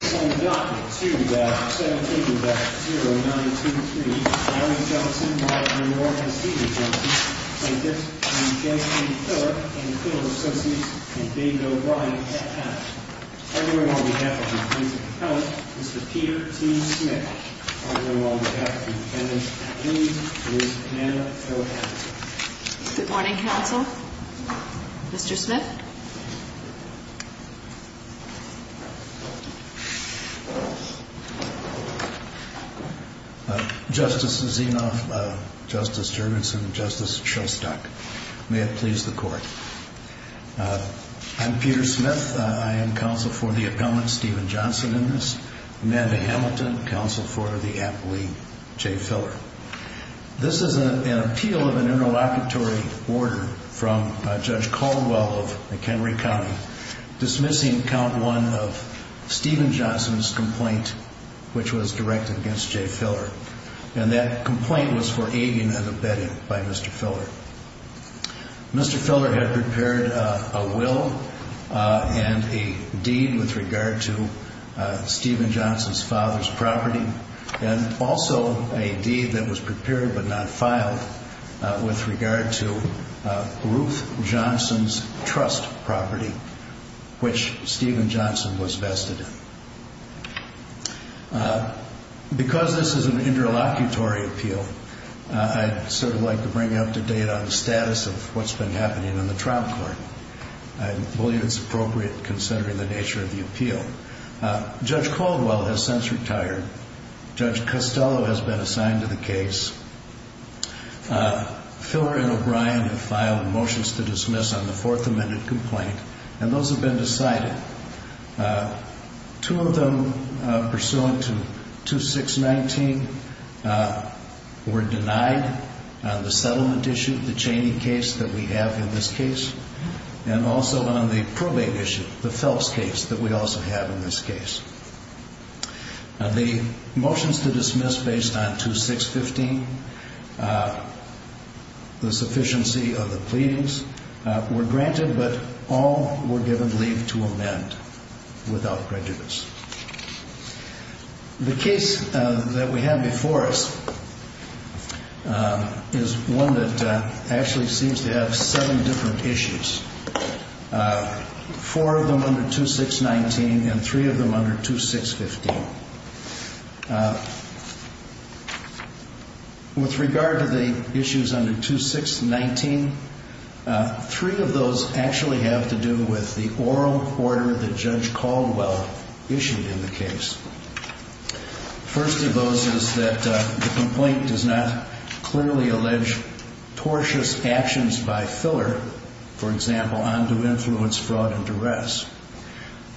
On the docket, 2-017-0923, Alex Ellison, Mark McMillan, and Stephen Johnson, plaintiffs, and J.P. Thiller and Thiller's associates, and Dave O'Brien have passed. Filing in on behalf of the plaintiff's appellant, Mr. Peter T. Smith. Filing in on behalf of the defendants, please, is Hannah O'Hanlon. Good morning, counsel. Mr. Smith. Justice Zinoff, Justice Jurgensen, and Justice Shostak, may it please the court. I'm Peter Smith. I am counsel for the appellant Stephen Johnson in this. Amanda Hamilton, counsel for the appellee J. Thiller. This is an appeal of an interlocutory order from Judge Caldwell of Henry County, dismissing count one of Stephen Johnson's complaint, which was directed against J. Thiller. And that complaint was for aiding and abetting by Mr. Thiller. Mr. Thiller had prepared a will and a deed with regard to Stephen Johnson's father's property, and also a deed that was prepared but not filed with regard to Ruth Johnson's trust property, which Stephen Johnson was vested in. Because this is an interlocutory appeal, I'd sort of like to bring you up to date on the status of what's been happening in the trial court. I believe it's appropriate considering the nature of the appeal. Judge Caldwell has since retired. Judge Costello has been assigned to the case. Thiller and O'Brien have filed motions to dismiss on the Fourth Amendment complaint, and those have been decided. Two of them, pursuant to 2619, were denied on the settlement issue, the Cheney case that we have in this case, and also on the probate issue, the Phelps case that we also have in this case. The motions to dismiss based on 2615, the sufficiency of the pleadings, were granted, but all were given leave to amend without prejudice. The case that we have before us is one that actually seems to have seven different issues, four of them under 2619 and three of them under 2615. With regard to the issues under 2619, three of those actually have to do with the oral order that Judge Caldwell issued in the case. The first of those is that the complaint does not clearly allege tortious actions by Thiller, for example, on to influence fraud and duress.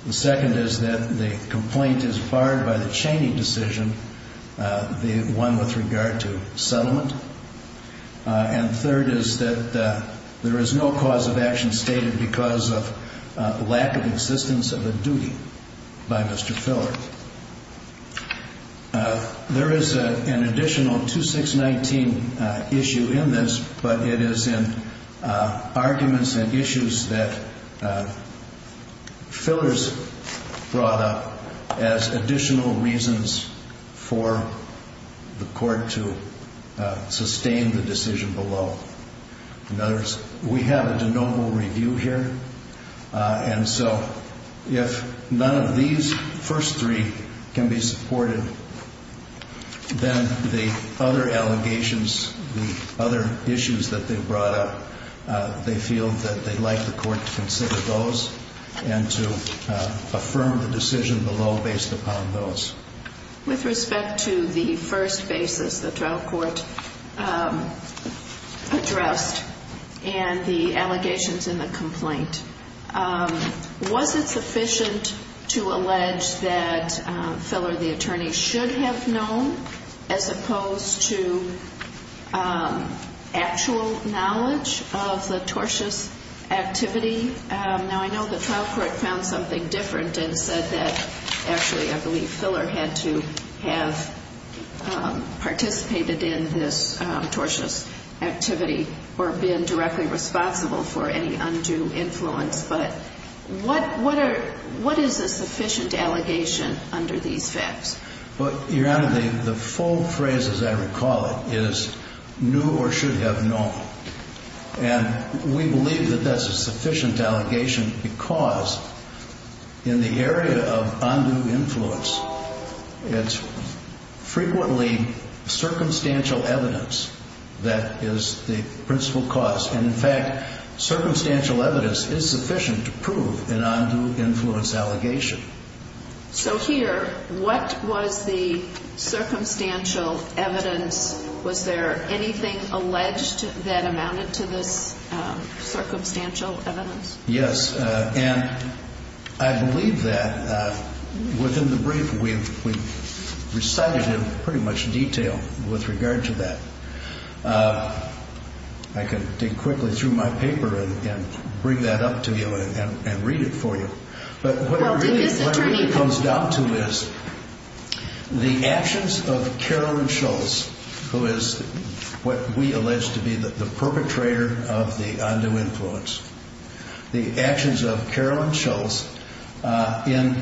The second is that the complaint is barred by the Cheney decision, the one with regard to settlement. And third is that there is no cause of action stated because of lack of existence of a duty by Mr. Thiller. There is an additional 2619 issue in this, but it is in arguments and issues that Thiller's brought up as additional reasons for the court to sustain the decision below. In other words, we have a de novo review here, and so if none of these first three can be supported, then the other allegations, the other issues that they've brought up, they feel that they'd like the court to consider those and to affirm the decision below based upon those. With respect to the first basis the trial court addressed and the allegations in the complaint, was it sufficient to allege that Thiller, the attorney, should have known as opposed to actual knowledge of the tortious activity? Now I know the trial court found something different and said that actually I believe Thiller had to have participated in this tortious activity or been directly responsible for any undue influence, but what is a sufficient allegation under these facts? Your Honor, the full phrase, as I recall it, is knew or should have known. And we believe that that's a sufficient allegation because in the area of undue influence, it's frequently circumstantial evidence that is the principal cause. And in fact, circumstantial evidence is sufficient to prove an undue influence allegation. So here, what was the circumstantial evidence? Was there anything alleged that amounted to this circumstantial evidence? Yes, and I believe that within the brief we've recited in pretty much detail with regard to that. I could dig quickly through my paper and bring that up to you and read it for you. But what it really comes down to is the actions of Carolyn Schultz, who is what we allege to be the perpetrator of the undue influence, the actions of Carolyn Schultz in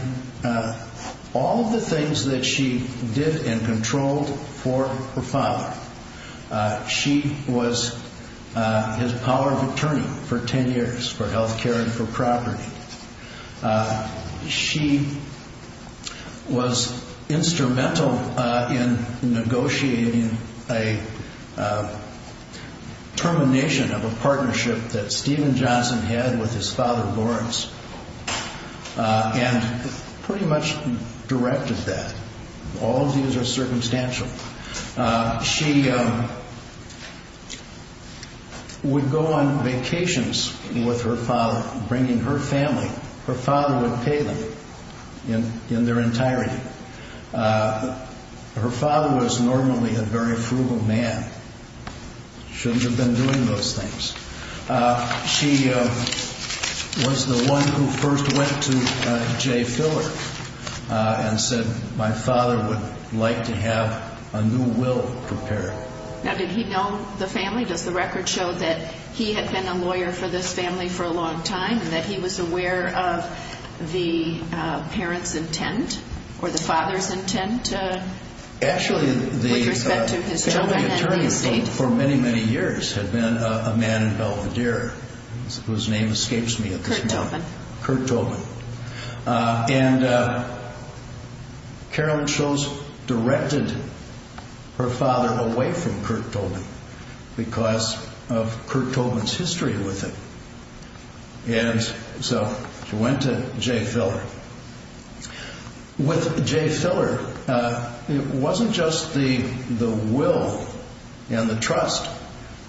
all of the things that she did and controlled for her father. She was his power of attorney for 10 years for health care and for property. She was instrumental in negotiating a termination of a partnership that Stephen Johnson had with his father, Lawrence, and pretty much directed that. All of these are circumstantial. She would go on vacations with her father, bringing her family. Her father would pay them in their entirety. Her father was normally a very frugal man. Shouldn't have been doing those things. She was the one who first went to Jay Filler and said, My father would like to have a new will prepared. Now, did he know the family? Does the record show that he had been a lawyer for this family for a long time and that he was aware of the parents' intent or the father's intent with respect to his children and the estate? For many, many years had been a man in Belvedere whose name escapes me at this point. Kurt Tobin. And Carolyn Schultz directed her father away from Kurt Tobin because of Kurt Tobin's history with him. And so she went to Jay Filler. With Jay Filler, it wasn't just the will and the trust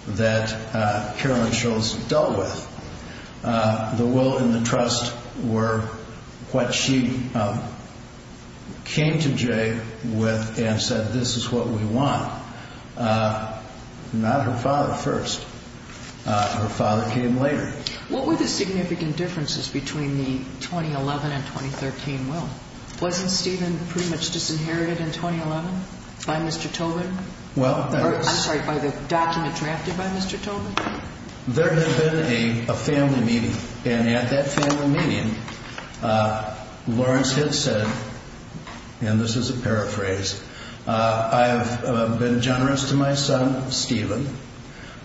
that Carolyn Schultz dealt with. The will and the trust were what she came to Jay with and said, This is what we want. Not her father first. Her father came later. What were the significant differences between the 2011 and 2013 will? Wasn't Stephen pretty much disinherited in 2011 by Mr. Tobin? I'm sorry, by the document drafted by Mr. Tobin? There had been a family meeting. And at that family meeting, Lawrence had said, and this is a paraphrase, I've been generous to my son, Stephen,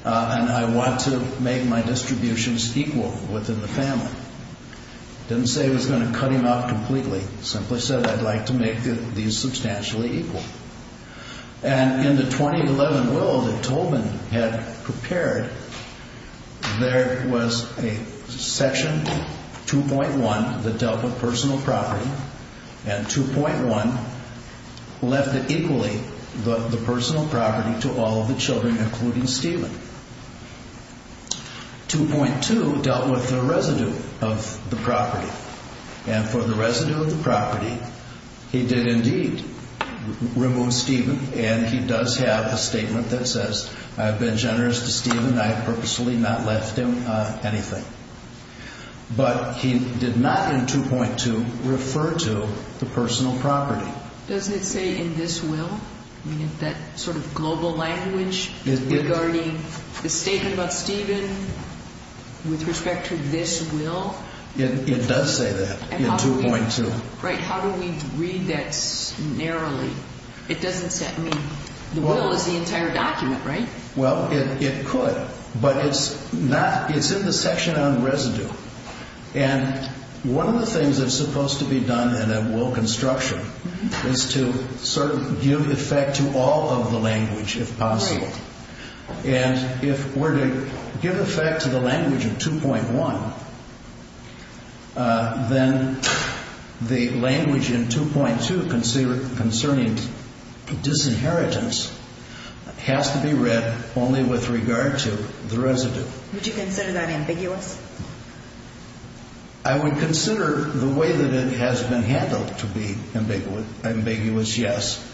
and I want to make my distributions equal within the family. Didn't say it was going to cut him off completely. Simply said, I'd like to make these substantially equal. And in the 2011 will that Tobin had prepared, there was a section 2.1 that dealt with personal property. And 2.1 left equally the personal property to all of the children, including Stephen. 2.2 dealt with the residue of the property. And for the residue of the property, he did indeed remove Stephen. And he does have a statement that says, I've been generous to Stephen. I purposefully not left him anything. But he did not in 2.2 refer to the personal property. Doesn't it say in this will, that sort of global language regarding the statement about Stephen with respect to this will? It does say that in 2.2. Right, how do we read that narrowly? It doesn't say, I mean, the will is the entire document, right? Well, it could. But it's not, it's in the section on residue. And one of the things that's supposed to be done in a will construction is to sort of give effect to all of the language, if possible. And if we're to give effect to the language in 2.1, then the language in 2.2 concerning disinheritance has to be read only with regard to the residue. Would you consider that ambiguous? I would consider the way that it has been handled to be ambiguous, yes.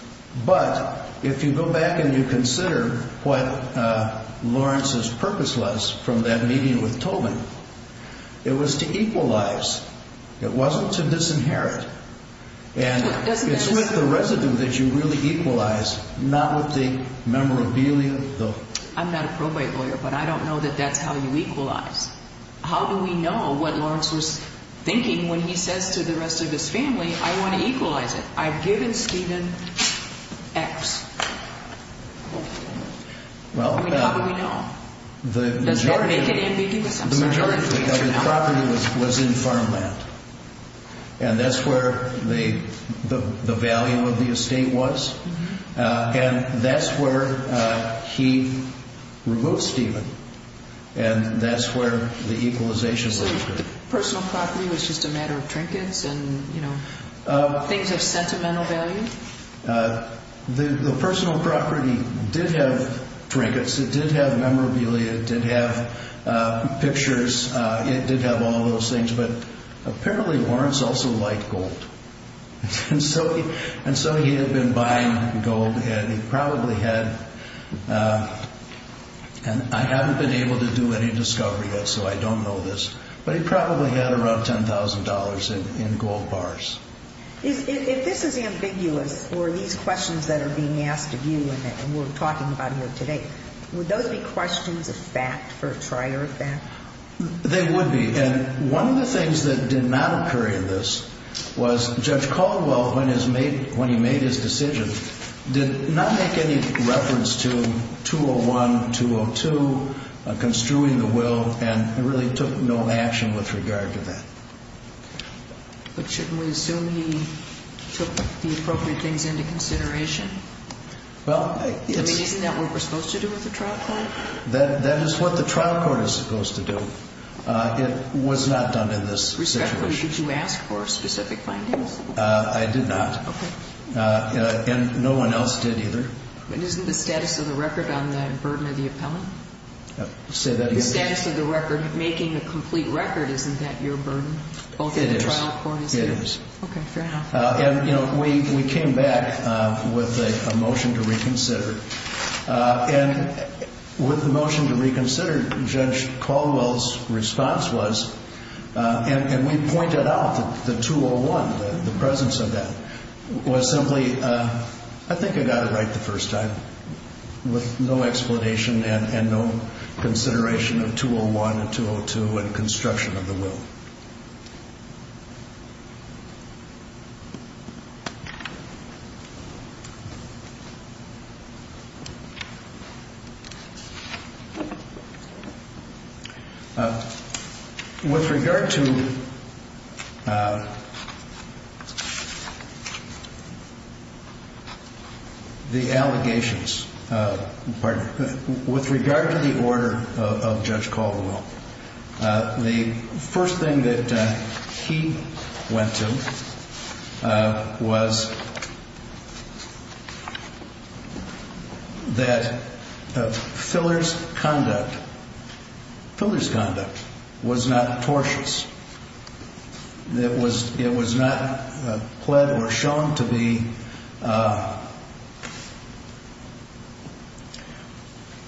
But if you go back and you consider what Lawrence's purpose was from that meeting with Tobin, it was to equalize. It wasn't to disinherit. And it's with the residue that you really equalize, not with the memorabilia. I'm not a probate lawyer, but I don't know that that's how you equalize. How do we know what Lawrence was thinking when he says to the rest of his family, I want to equalize it. I've given Stephen X. How do we know? Does that make it ambiguous? The majority of the property was in farmland. And that's where the value of the estate was. And that's where he removed Stephen. And that's where the equalization was. The personal property was just a matter of trinkets and things of sentimental value? The personal property did have trinkets. It did have memorabilia. It did have pictures. It did have all those things. But apparently, Lawrence also liked gold. And so he had been buying gold. And I haven't been able to do any discovery yet, so I don't know this. But he probably had around $10,000 in gold bars. If this is ambiguous, or these questions that are being asked of you and we're talking about here today, would those be questions of fact or a trier of fact? They would be. And one of the things that did not occur in this was Judge Caldwell, when he made his decision, did not make any reference to 201, 202, construing the will. And he really took no action with regard to that. But shouldn't we assume he took the appropriate things into consideration? Well, yes. I mean, isn't that what we're supposed to do with the trial court? That is what the trial court is supposed to do. It was not done in this situation. Respectfully, did you ask for specific findings? I did not. Okay. And no one else did either. But isn't the status of the record on the burden of the appellant? Say that again? The status of the record, making a complete record, isn't that your burden? It is. Both in the trial court? It is. Okay, fair enough. And, you know, we came back with a motion to reconsider. And with the motion to reconsider, Judge Caldwell's response was, and we pointed out the 201, the presence of that, was simply, I think I got it right the first time with no explanation and no consideration of 201 and 202 and construction of the will. With regard to the allegations, with regard to the order of Judge Caldwell, the first thing that he went to was that Filler's conduct, Filler's conduct was not tortious. It was not pled or shown to be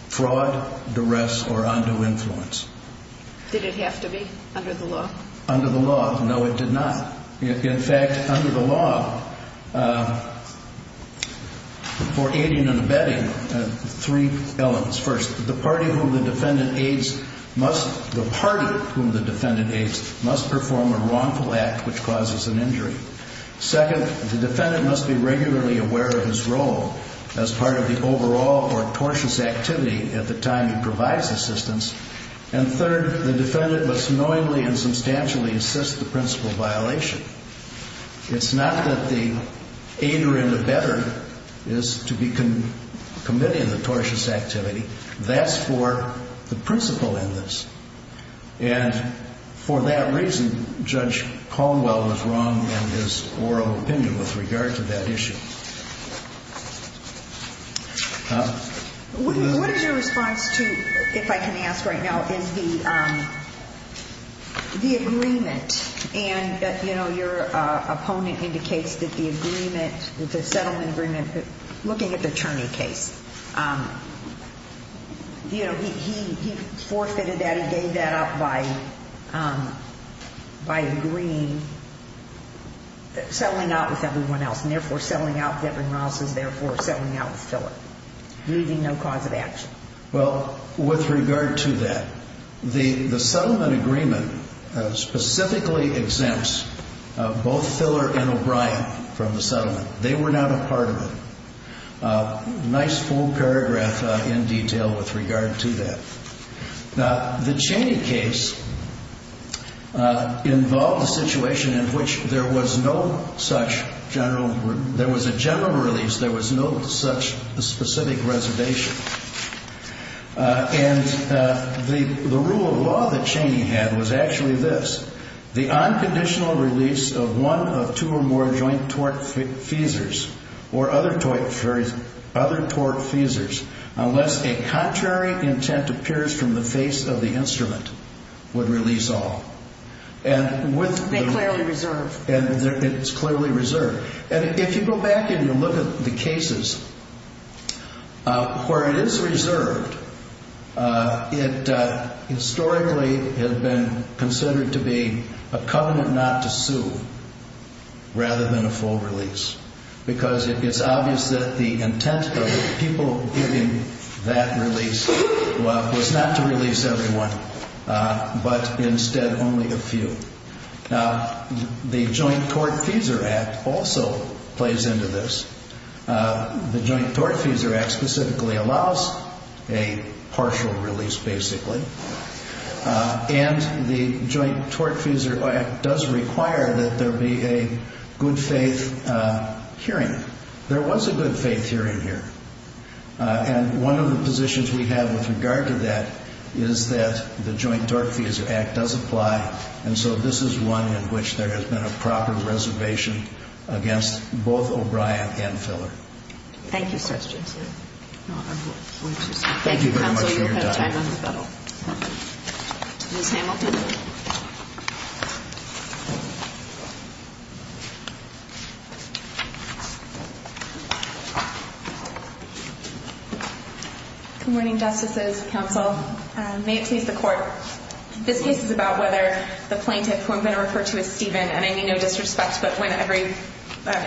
fraud, duress, or undue influence. Did it have to be under the law? Under the law, no, it did not. In fact, under the law, for aiding and abetting, three elements. First, the party whom the defendant aids must perform a wrongful act which causes an injury. Second, the defendant must be regularly aware of his role as part of the overall or tortious activity at the time he provides assistance. And third, the defendant must knowingly and substantially assist the principal violation. It's not that the aider and abetter is to be committing the tortious activity. That's for the principal in this. And for that reason, Judge Caldwell was wrong in his oral opinion with regard to that issue. What is your response to, if I can ask right now, is the agreement and that, you know, your opponent indicates that the agreement, the settlement agreement, looking at the attorney case, you know, he forfeited that, he gave that up by agreeing, settling out with everyone else, and therefore settling out with everyone else is therefore settling out with Filler, leaving no cause of action. Well, with regard to that, the settlement agreement specifically exempts both Filler and O'Brien from the settlement. They were not a part of it. Nice full paragraph in detail with regard to that. Now, the Cheney case involved a situation in which there was no such general, there was a general release, there was no such specific reservation. And the rule of law that Cheney had was actually this, the unconditional release of one of two or more joint tort feasors or other tort feasors unless a contrary intent appears from the face of the instrument would release all. They clearly reserve. It's clearly reserved. And if you go back and you look at the cases where it is reserved, it historically has been considered to be a covenant not to sue rather than a full release because it's obvious that the intent of the people giving that release was not to release everyone, but instead only a few. Now, the Joint Tort Feasor Act also plays into this. The Joint Tort Feasor Act specifically allows a partial release, basically. And the Joint Tort Feasor Act does require that there be a good-faith hearing. There was a good-faith hearing here. And one of the positions we have with regard to that is that the Joint Tort Feasor Act does apply, and so this is one in which there has been a proper reservation against both O'Brien and Filler. Thank you, sir. Thank you very much for your time. Ms. Hamilton. Good morning, Justices, Counsel. May it please the Court. This case is about whether the plaintiff, whom I'm going to refer to as Steven, and I need no disrespect, but when every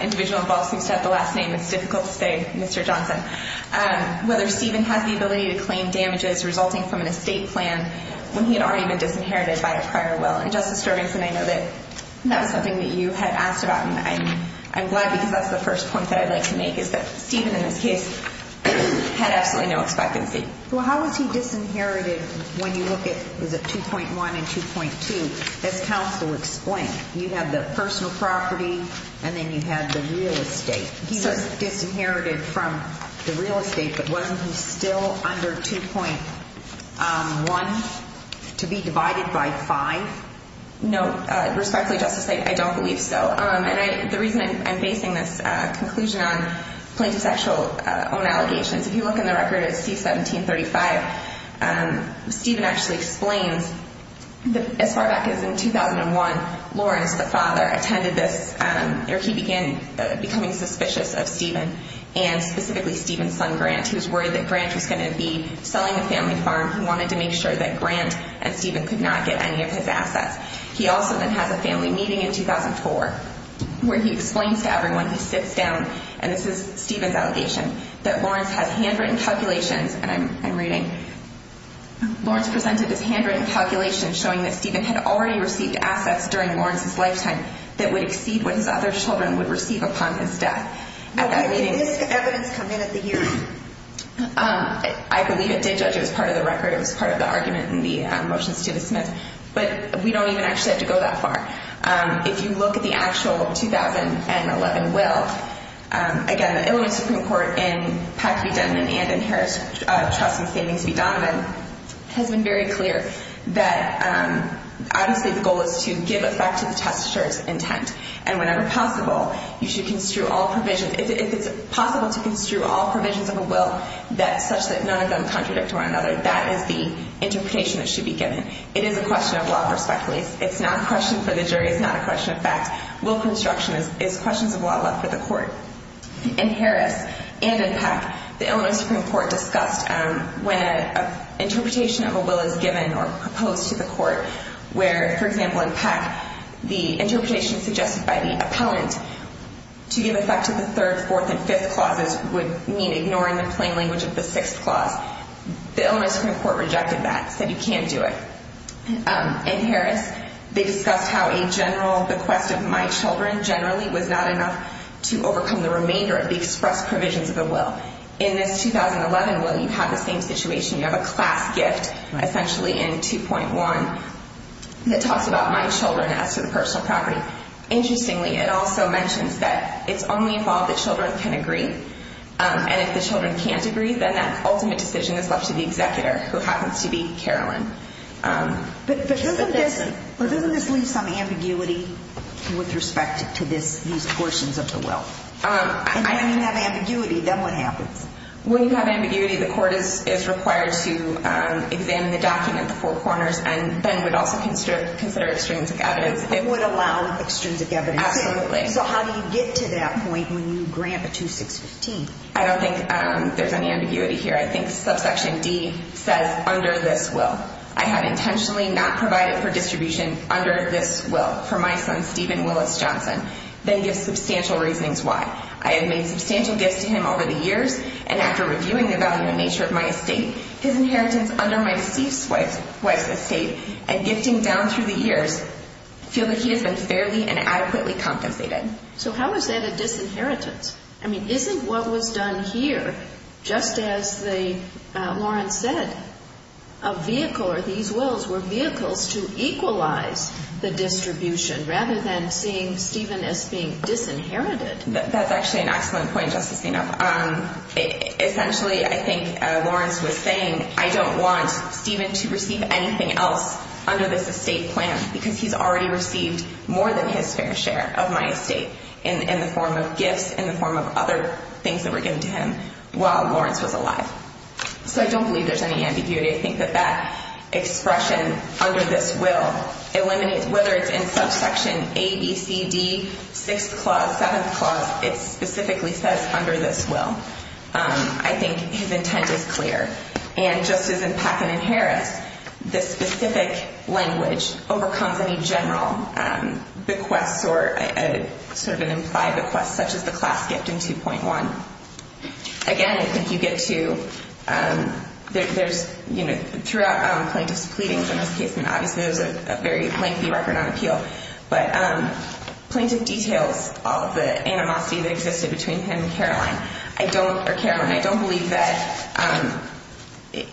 individual involved seems to have the last name, it's difficult to say, Mr. Johnson, whether Steven has the ability to claim damages resulting from an estate plan when he had already been disinherited by a prior will. And, Justice Gergenson, I know that that was something that you had asked about, and I'm glad because that's the first point that I'd like to make, is that Steven, in this case, had absolutely no expectancy. Well, how was he disinherited when you look at, was it 2.1 and 2.2? As Counsel explained, you have the personal property, and then you have the real estate. He was disinherited from the real estate, but wasn't he still under 2.1 to be divided by 5? No. Respectfully, Justice, I don't believe so. And the reason I'm basing this conclusion on plaintiff's actual own allegations, if you look in the record of C-1735, Steven actually explains that as far back as in 2001, Lawrence, the father, attended this, or he began becoming suspicious of Steven, and specifically Steven's son, Grant, who was worried that Grant was going to be selling the family farm. He wanted to make sure that Grant and Steven could not get any of his assets. He also then has a family meeting in 2004 where he explains to everyone, he sits down, and this is Steven's allegation, that Lawrence has handwritten calculations, and I'm reading, Lawrence presented his handwritten calculations showing that during Lawrence's lifetime that would exceed what his other children would receive upon his death. Did this evidence come in at the hearing? I believe it did, Judge. It was part of the record. It was part of the argument in the motions to the Smith. But we don't even actually have to go that far. If you look at the actual 2011 will, again, the Illinois Supreme Court in Packard v. Denman and in Harris v. Donovan has been very clear that, obviously, the goal is to give effect to the test shirt's intent. And whenever possible, you should construe all provisions. If it's possible to construe all provisions of a will such that none of them contradict one another, that is the interpretation that should be given. It is a question of law, respectfully. It's not a question for the jury. It's not a question of fact. Will construction is questions of law left for the court. In Harris and in Pack, the Illinois Supreme Court discussed when an interpretation of a will is given or proposed to the court, where, for example, in Pack, the interpretation suggested by the appellant to give effect to the third, fourth, and fifth clauses would mean ignoring the plain language of the sixth clause. The Illinois Supreme Court rejected that, said you can't do it. In Harris, they discussed how a general bequest of my children, generally, was not enough to overcome the remainder of the express provisions of a will. In this 2011 will, you have the same situation. You have a class gift, essentially in 2.1, that talks about my children as to the personal property. Interestingly, it also mentions that it's only involved that children can agree. And if the children can't agree, then that ultimate decision is left to the executor, who happens to be Carolyn. But doesn't this leave some ambiguity with respect to these portions of the will? And when you have ambiguity, then what happens? When you have ambiguity, the court is required to examine the document, the four corners, and then would also consider extrinsic evidence. It would allow extrinsic evidence. Absolutely. So how do you get to that point when you grant the 2615? I don't think there's any ambiguity here. I think subsection D says under this will. I have intentionally not provided for distribution under this will for my son, Stephen Willis Johnson. Then gives substantial reasonings why. I have made substantial gifts to him over the years, and after reviewing the value and nature of my estate, his inheritance under my deceased wife's estate and gifting down through the years feel that he has been fairly and adequately compensated. So how is that a disinheritance? I mean, isn't what was done here, just as Lauren said, a vehicle or these wills were vehicles to equalize the distribution rather than seeing Stephen as being disinherited? That's actually an excellent point, Justice Enum. Essentially, I think Lawrence was saying, I don't want Stephen to receive anything else under this estate plan because he's already received more than his fair share of my estate in the form of gifts, in the form of other things that were given to him while Lawrence was alive. So I don't believe there's any ambiguity. I think that that expression, under this will, eliminates, whether it's in subsection A, B, C, D, 6th clause, 7th clause, it specifically says under this will. I think his intent is clear. And just as in Packen and Harris, this specific language overcomes any general bequests or sort of an implied bequest such as the class gift in 2.1. Again, I think you get to, there's, you know, throughout plaintiff's pleadings in this case, and obviously there's a very lengthy record on appeal, but plaintiff details all of the animosity that existed between him and Caroline. I don't, or Caroline, I don't believe that,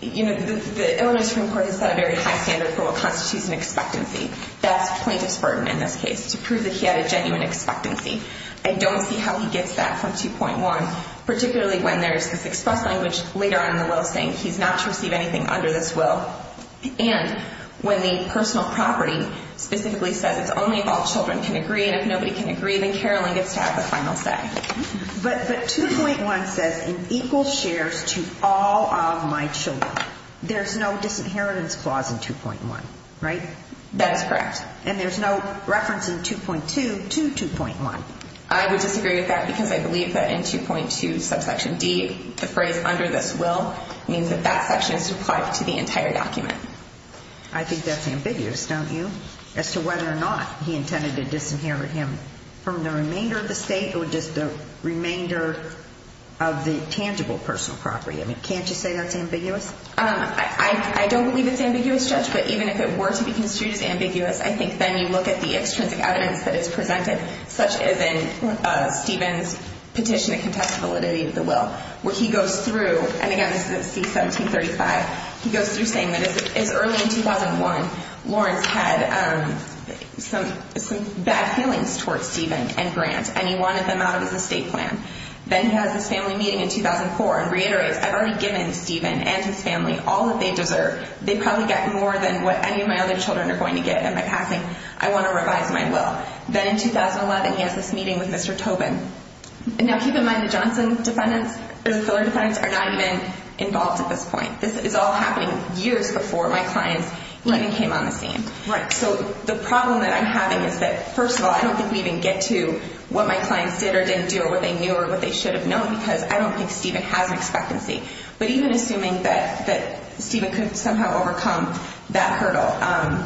you know, the Illinois Supreme Court has set a very high standard for what constitutes an expectancy. That's plaintiff's burden in this case, to prove that he had a genuine expectancy. I don't see how he gets that from 2.1, particularly when there's this express language later on in the will saying he's not to receive anything under this will. And when the personal property specifically says it's only if all children can agree, and if nobody can agree, then Caroline gets to have the final say. But 2.1 says in equal shares to all of my children. There's no disinheritance clause in 2.1, right? That is correct. And there's no reference in 2.2 to 2.1. I would disagree with that because I believe that in 2.2 subsection D, the phrase under this will means that that section is applied to the entire document. I think that's ambiguous, don't you, as to whether or not he intended to disinherit him from the remainder of the state or just the remainder of the tangible personal property. I mean, can't you say that's ambiguous? I don't believe it's ambiguous, Judge, but even if it were to be construed as ambiguous, I think then you look at the extrinsic evidence that is presented, such as in Stephen's petition to contest the validity of the will, where he goes through, and again this is at C1735, he goes through saying that as early as 2001, Lawrence had some bad feelings toward Stephen and Grant, and he wanted them out of his estate plan. Then he has this family meeting in 2004 and reiterates, I've already given Stephen and his family all that they deserve. They probably get more than what any of my other children are going to get in my passing. I want to revise my will. Then in 2011, he has this meeting with Mr. Tobin. Now, keep in mind the Johnson defendants, the filler defendants are not even involved at this point. This is all happening years before my clients even came on the scene. Right. So the problem that I'm having is that, first of all, I don't think we even get to what my clients did or didn't do or what they knew or what they should have known because I don't think Stephen has an expectancy. But even assuming that Stephen could somehow overcome that hurdle,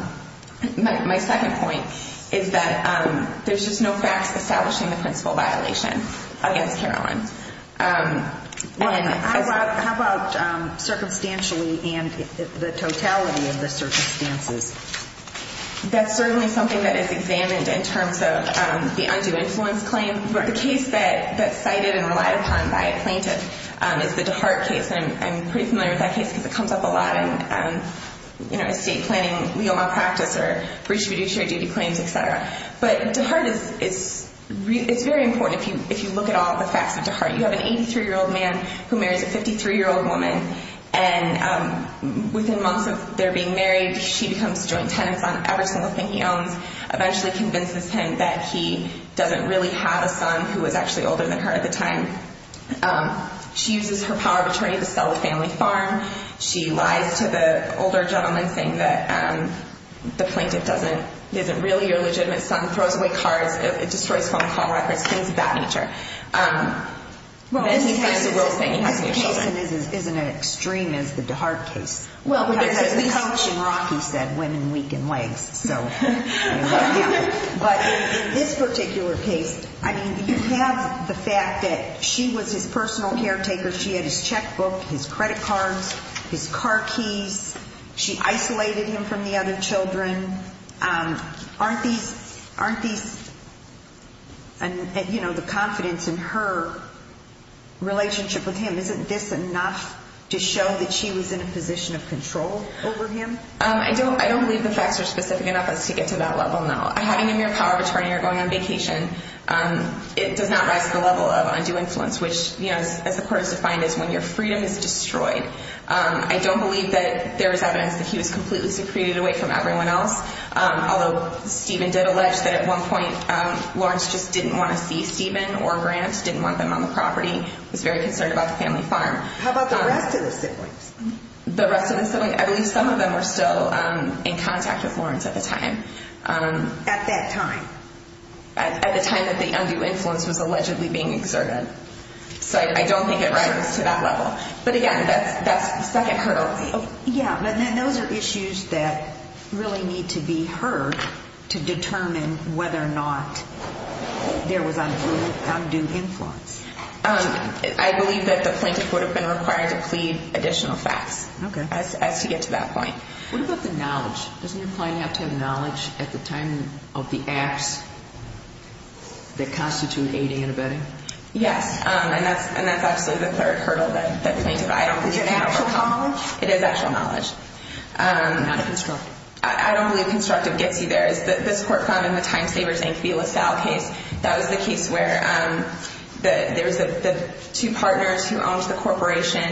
my second point is that there's just no facts establishing the principal violation against Caroline. How about circumstantially and the totality of the circumstances? That's certainly something that is examined in terms of the undue influence claim. The case that's cited and relied upon by a plaintiff is the DeHart case, and I'm pretty familiar with that case because it comes up a lot in estate planning, we owe malpractice or breach of fiduciary duty claims, et cetera. But DeHart is very important if you look at all the facts of DeHart. You have an 83-year-old man who marries a 53-year-old woman, and within months of their being married, she becomes joint tenants on every single thing he owns, and eventually convinces him that he doesn't really have a son who is actually older than her at the time. She uses her power of attorney to sell the family farm. She lies to the older gentleman saying that the plaintiff isn't really your legitimate son, throws away cards, destroys phone call records, things of that nature. Well, isn't an extreme as the DeHart case? As the coach in Rocky said, women weaken legs. But in this particular case, I mean, you have the fact that she was his personal caretaker. She had his checkbook, his credit cards, his car keys. She isolated him from the other children. Aren't these, you know, the confidence in her relationship with him, and isn't this enough to show that she was in a position of control over him? I don't believe the facts are specific enough as to get to that level, no. Having him your power of attorney or going on vacation, it does not rise to the level of undue influence, which, you know, as the court has defined, is when your freedom is destroyed. I don't believe that there is evidence that he was completely secreted away from everyone else, although Stephen did allege that at one point Lawrence just didn't want to see Stephen or Grant, didn't want them on the property, was very concerned about the family farm. How about the rest of the siblings? The rest of the siblings, I believe some of them were still in contact with Lawrence at the time. At that time? At the time that the undue influence was allegedly being exerted. So I don't think it rises to that level. But again, that's the second hurdle. Yeah, but then those are issues that really need to be heard to determine whether or not there was undue influence. I believe that the plaintiff would have been required to plead additional facts as to get to that point. What about the knowledge? Doesn't your plaintiff have to have knowledge at the time of the acts that constitute aiding and abetting? Yes, and that's actually the third hurdle that the plaintiff, I don't believe, can overcome. Is that actual knowledge? It is actual knowledge. Not constructive. I don't believe constructive gets you there. This court found in the Time Savers, Inc. v. LaSalle case, that was the case where there was the two partners who owned the corporation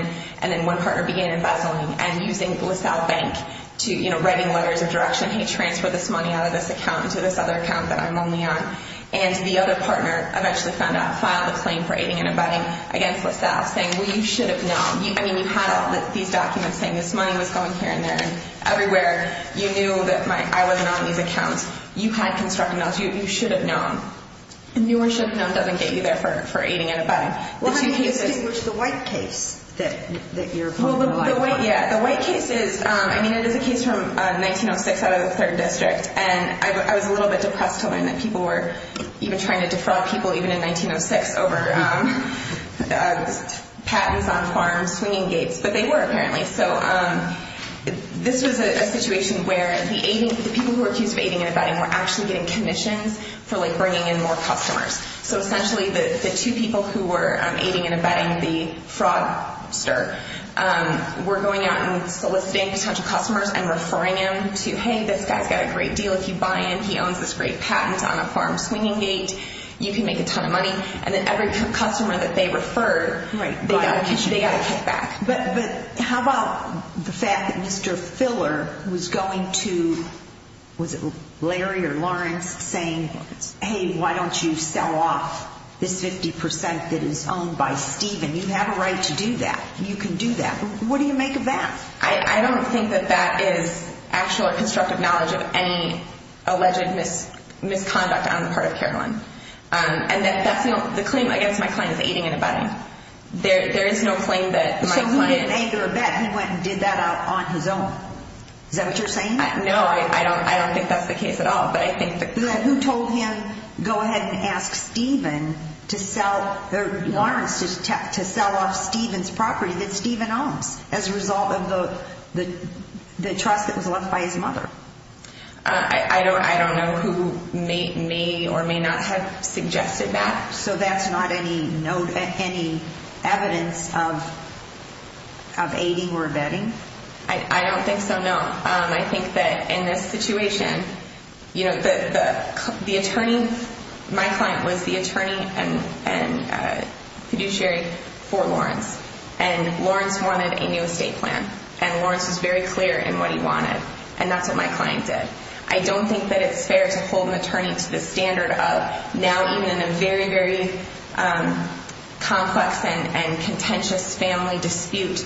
and then one partner began embezzling and using LaSalle Bank to, you know, writing letters of direction, hey, transfer this money out of this account into this other account that I'm only on. And the other partner eventually found out, filed a claim for aiding and abetting against LaSalle saying, well, you should have known. I mean, you had all these documents saying this money was going here and there and everywhere. You knew that I was not on these accounts. You had constructive knowledge. You should have known. And you should have known doesn't get you there for aiding and abetting. Well, how do you distinguish the white case that you're calling the white one? Yeah, the white case is, I mean, it is a case from 1906 out of the 3rd District, and I was a little bit depressed to learn that people were even trying to defraud people even in 1906 over patents on farms, swinging gates, but they were apparently. So this was a situation where the people who were accused of aiding and abetting were actually getting commissions for, like, bringing in more customers. So essentially the two people who were aiding and abetting the fraudster were going out and soliciting potential customers and referring them to, hey, this guy's got a great deal if you buy in. He owns this great patent on a farm swinging gate. You can make a ton of money. And then every customer that they referred, they got a kickback. But how about the fact that Mr. Filler was going to, was it Larry or Lawrence, saying, hey, why don't you sell off this 50% that is owned by Stephen? You have a right to do that. You can do that. What do you make of that? I don't think that that is actual or constructive knowledge of any alleged misconduct on the part of Carolyn. And that's not, the claim against my client is aiding and abetting. There is no claim that my client. So he didn't aid or abet. He went and did that on his own. Is that what you're saying? No, I don't think that's the case at all. But I think that. Who told him, go ahead and ask Stephen to sell, or Lawrence to sell off Stephen's property that Stephen owns as a result of the trust that was left by his mother? I don't know who may or may not have suggested that. So that's not any evidence of aiding or abetting? I don't think so, no. I think that in this situation, you know, the attorney, my client was the attorney and fiduciary for Lawrence. And Lawrence wanted a new estate plan. And Lawrence was very clear in what he wanted. And that's what my client did. I don't think that it's fair to hold an attorney to the standard of, now even in a very, very complex and contentious family dispute,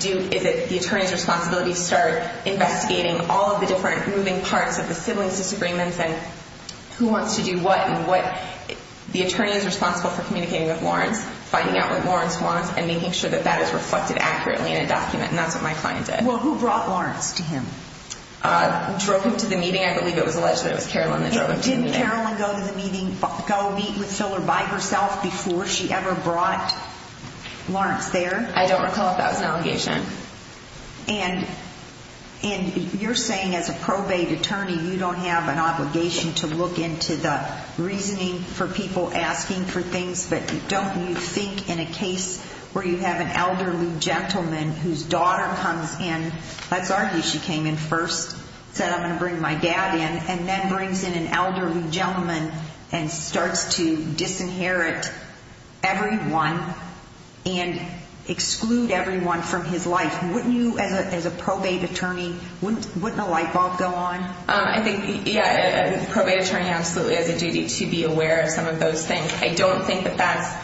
is it the attorney's responsibility to start investigating all of the different moving parts of the siblings' disagreements and who wants to do what and what. The attorney is responsible for communicating with Lawrence, finding out what Lawrence wants, and making sure that that is reflected accurately in a document. And that's what my client did. Well, who brought Lawrence to him? Drove him to the meeting. I believe it was alleged that it was Carolyn that drove him to the meeting. Didn't Carolyn go to the meeting, go meet with Filler by herself before she ever brought Lawrence there? I don't recall if that was an allegation. And you're saying as a probate attorney you don't have an obligation to look into the reasoning for people asking for things, but don't you think in a case where you have an elderly gentleman whose daughter comes in, let's argue she came in first, said I'm going to bring my dad in, and then brings in an elderly gentleman and starts to disinherit everyone and exclude everyone from his life, wouldn't you as a probate attorney, wouldn't a light bulb go on? I think, yeah, a probate attorney absolutely has a duty to be aware of some of those things. I don't think that that's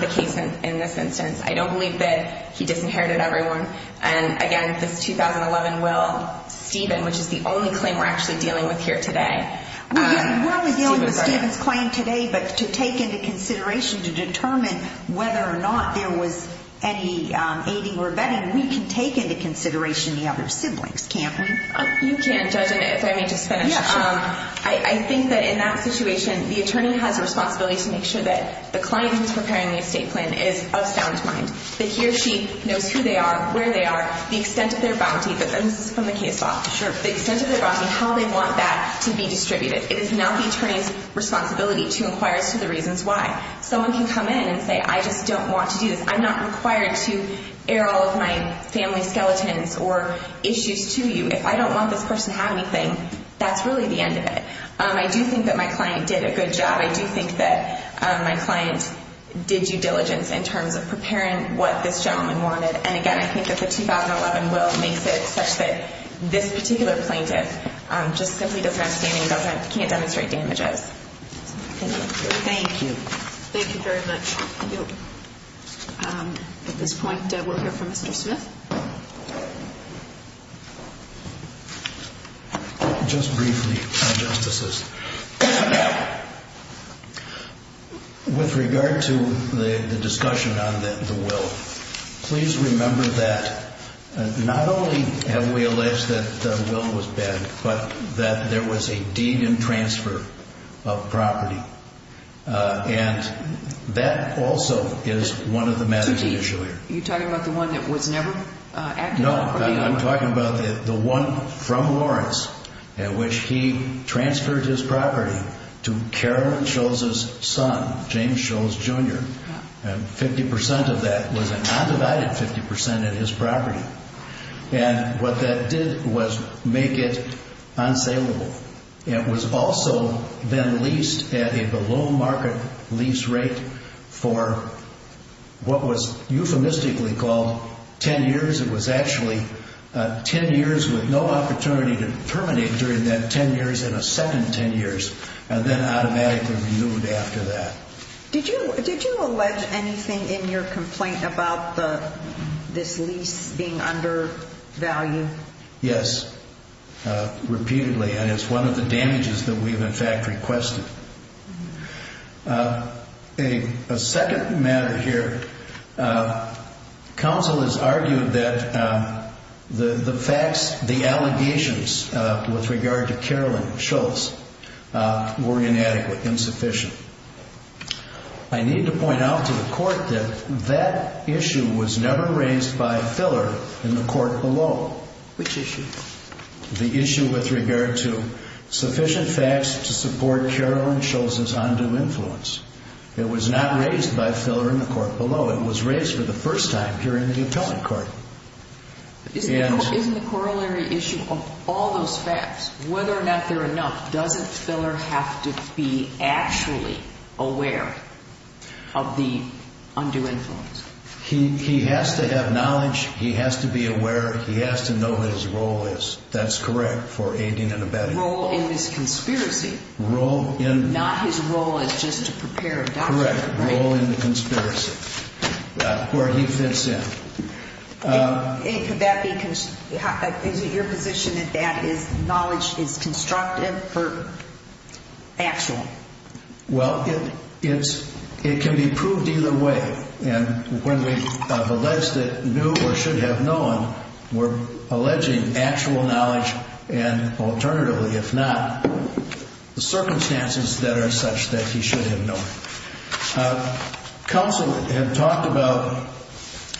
the case in this instance. I don't believe that he disinherited everyone. And, again, this 2011 will, Stephen, which is the only claim we're actually dealing with here today. We're only dealing with Stephen's claim today, but to take into consideration, to determine whether or not there was any aiding or abetting, we can take into consideration the other siblings, can't we? You can, Judge, and if I may just finish. I think that in that situation, the attorney has a responsibility to make sure that the client who's preparing the estate plan is of sound mind, that he or she knows who they are, where they are, the extent of their bounty, and this is from the case law, the extent of their bounty, how they want that to be distributed. It is now the attorney's responsibility to inquire as to the reasons why. Someone can come in and say, I just don't want to do this. I'm not required to air all of my family skeletons or issues to you. If I don't want this person to have anything, that's really the end of it. I do think that my client did a good job. I do think that my client did due diligence in terms of preparing what this gentleman wanted, and, again, I think that the 2011 will makes it such that this particular plaintiff just simply doesn't have standing and can't demonstrate damages. Thank you. Thank you. Thank you very much. At this point, we'll hear from Mr. Smith. Just briefly, Justices, with regard to the discussion on the will, please remember that not only have we alleged that the will was bad, but that there was a deed in transfer of property, and that also is one of the matters of issue here. Are you talking about the one that was never acted on? No, I'm talking about the one from Lawrence, in which he transferred his property to Carol Schultz's son, James Schultz, Jr., and 50% of that was a non-divided 50% of his property. And what that did was make it unsalable. It was also then leased at a below-market lease rate for what was euphemistically called 10 years. It was actually 10 years with no opportunity to terminate during that 10 years and a second 10 years, and then automatically renewed after that. Did you allege anything in your complaint about this lease being undervalued? Yes, repeatedly, and it's one of the damages that we've in fact requested. A second matter here, counsel has argued that the facts, the allegations with regard to Carol and Schultz were inadequately insufficient. I need to point out to the court that that issue was never raised by Filler in the court below. Which issue? The issue with regard to sufficient facts to support Carol and Schultz's undue influence. It was not raised by Filler in the court below. It was raised for the first time here in the appellate court. Isn't the corollary issue of all those facts, whether or not they're enough, doesn't Filler have to be actually aware of the undue influence? He has to have knowledge. He has to be aware. He has to know what his role is. That's correct for aiding and abetting. Role in this conspiracy. Not his role as just a prepared doctor. Correct. Role in the conspiracy, where he fits in. Is it your position that that knowledge is constructive or actual? Well, it can be proved either way. And when we've alleged it, knew or should have known, we're alleging actual knowledge and alternatively, if not, the circumstances that are such that he should have known. Counsel have talked about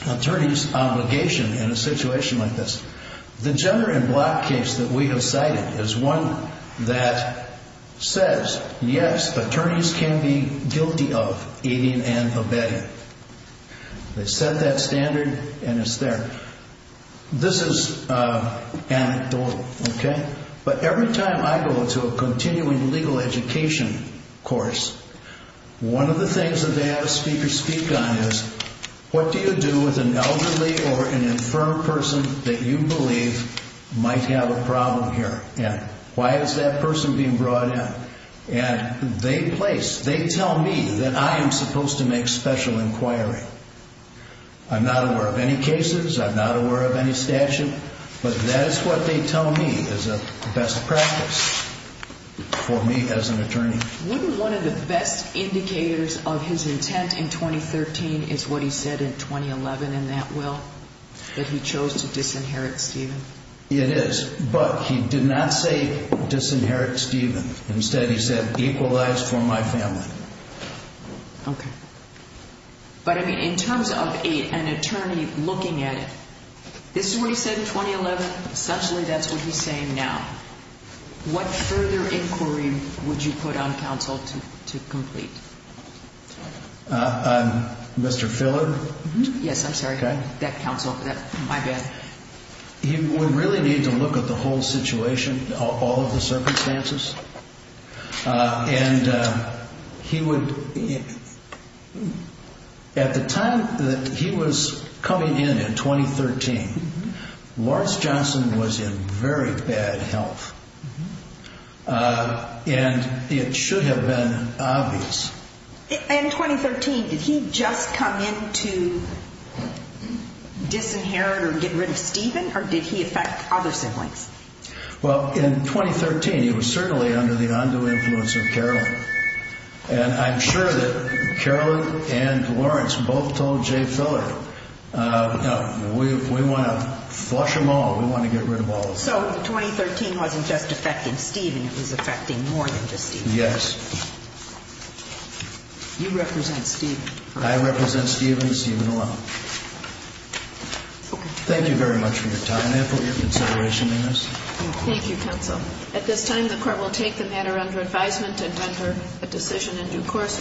attorney's obligation in a situation like this. The gender and black case that we have cited is one that says, yes, attorneys can be guilty of aiding and abetting. They set that standard and it's there. This is anecdotal, okay? But every time I go to a continuing legal education course, one of the things that they have a speaker speak on is, what do you do with an elderly or an infirm person that you believe might have a problem here? And why is that person being brought in? And they place, they tell me that I am supposed to make special inquiry. I'm not aware of any cases. I'm not aware of any statute. But that is what they tell me is the best practice for me as an attorney. Wouldn't one of the best indicators of his intent in 2013 is what he said in 2011 in that will, that he chose to disinherit Stephen? It is, but he did not say disinherit Stephen. Instead, he said equalize for my family. Okay. But I mean, in terms of an attorney looking at it, this is what he said in 2011. Essentially, that's what he's saying now. What further inquiry would you put on counsel to complete? Mr. Filler? Yes, I'm sorry. That counsel, my bad. He would really need to look at the whole situation, all of the circumstances. And he would, at the time that he was coming in in 2013, Lawrence Johnson was in very bad health. And it should have been obvious. In 2013, did he just come in to disinherit or get rid of Stephen, or did he affect other siblings? Well, in 2013, he was certainly under the undue influence of Carolyn. And I'm sure that Carolyn and Lawrence both told Jay Filler, no, we want to flush them all. We want to get rid of all of them. So 2013 wasn't just affecting Stephen. It was affecting more than just Stephen. Yes. You represent Stephen. I represent Stephen, Stephen alone. Okay. Thank you very much for your time. Thank you, counsel. At this time, the Court will take the matter under advisement and render a decision in due course.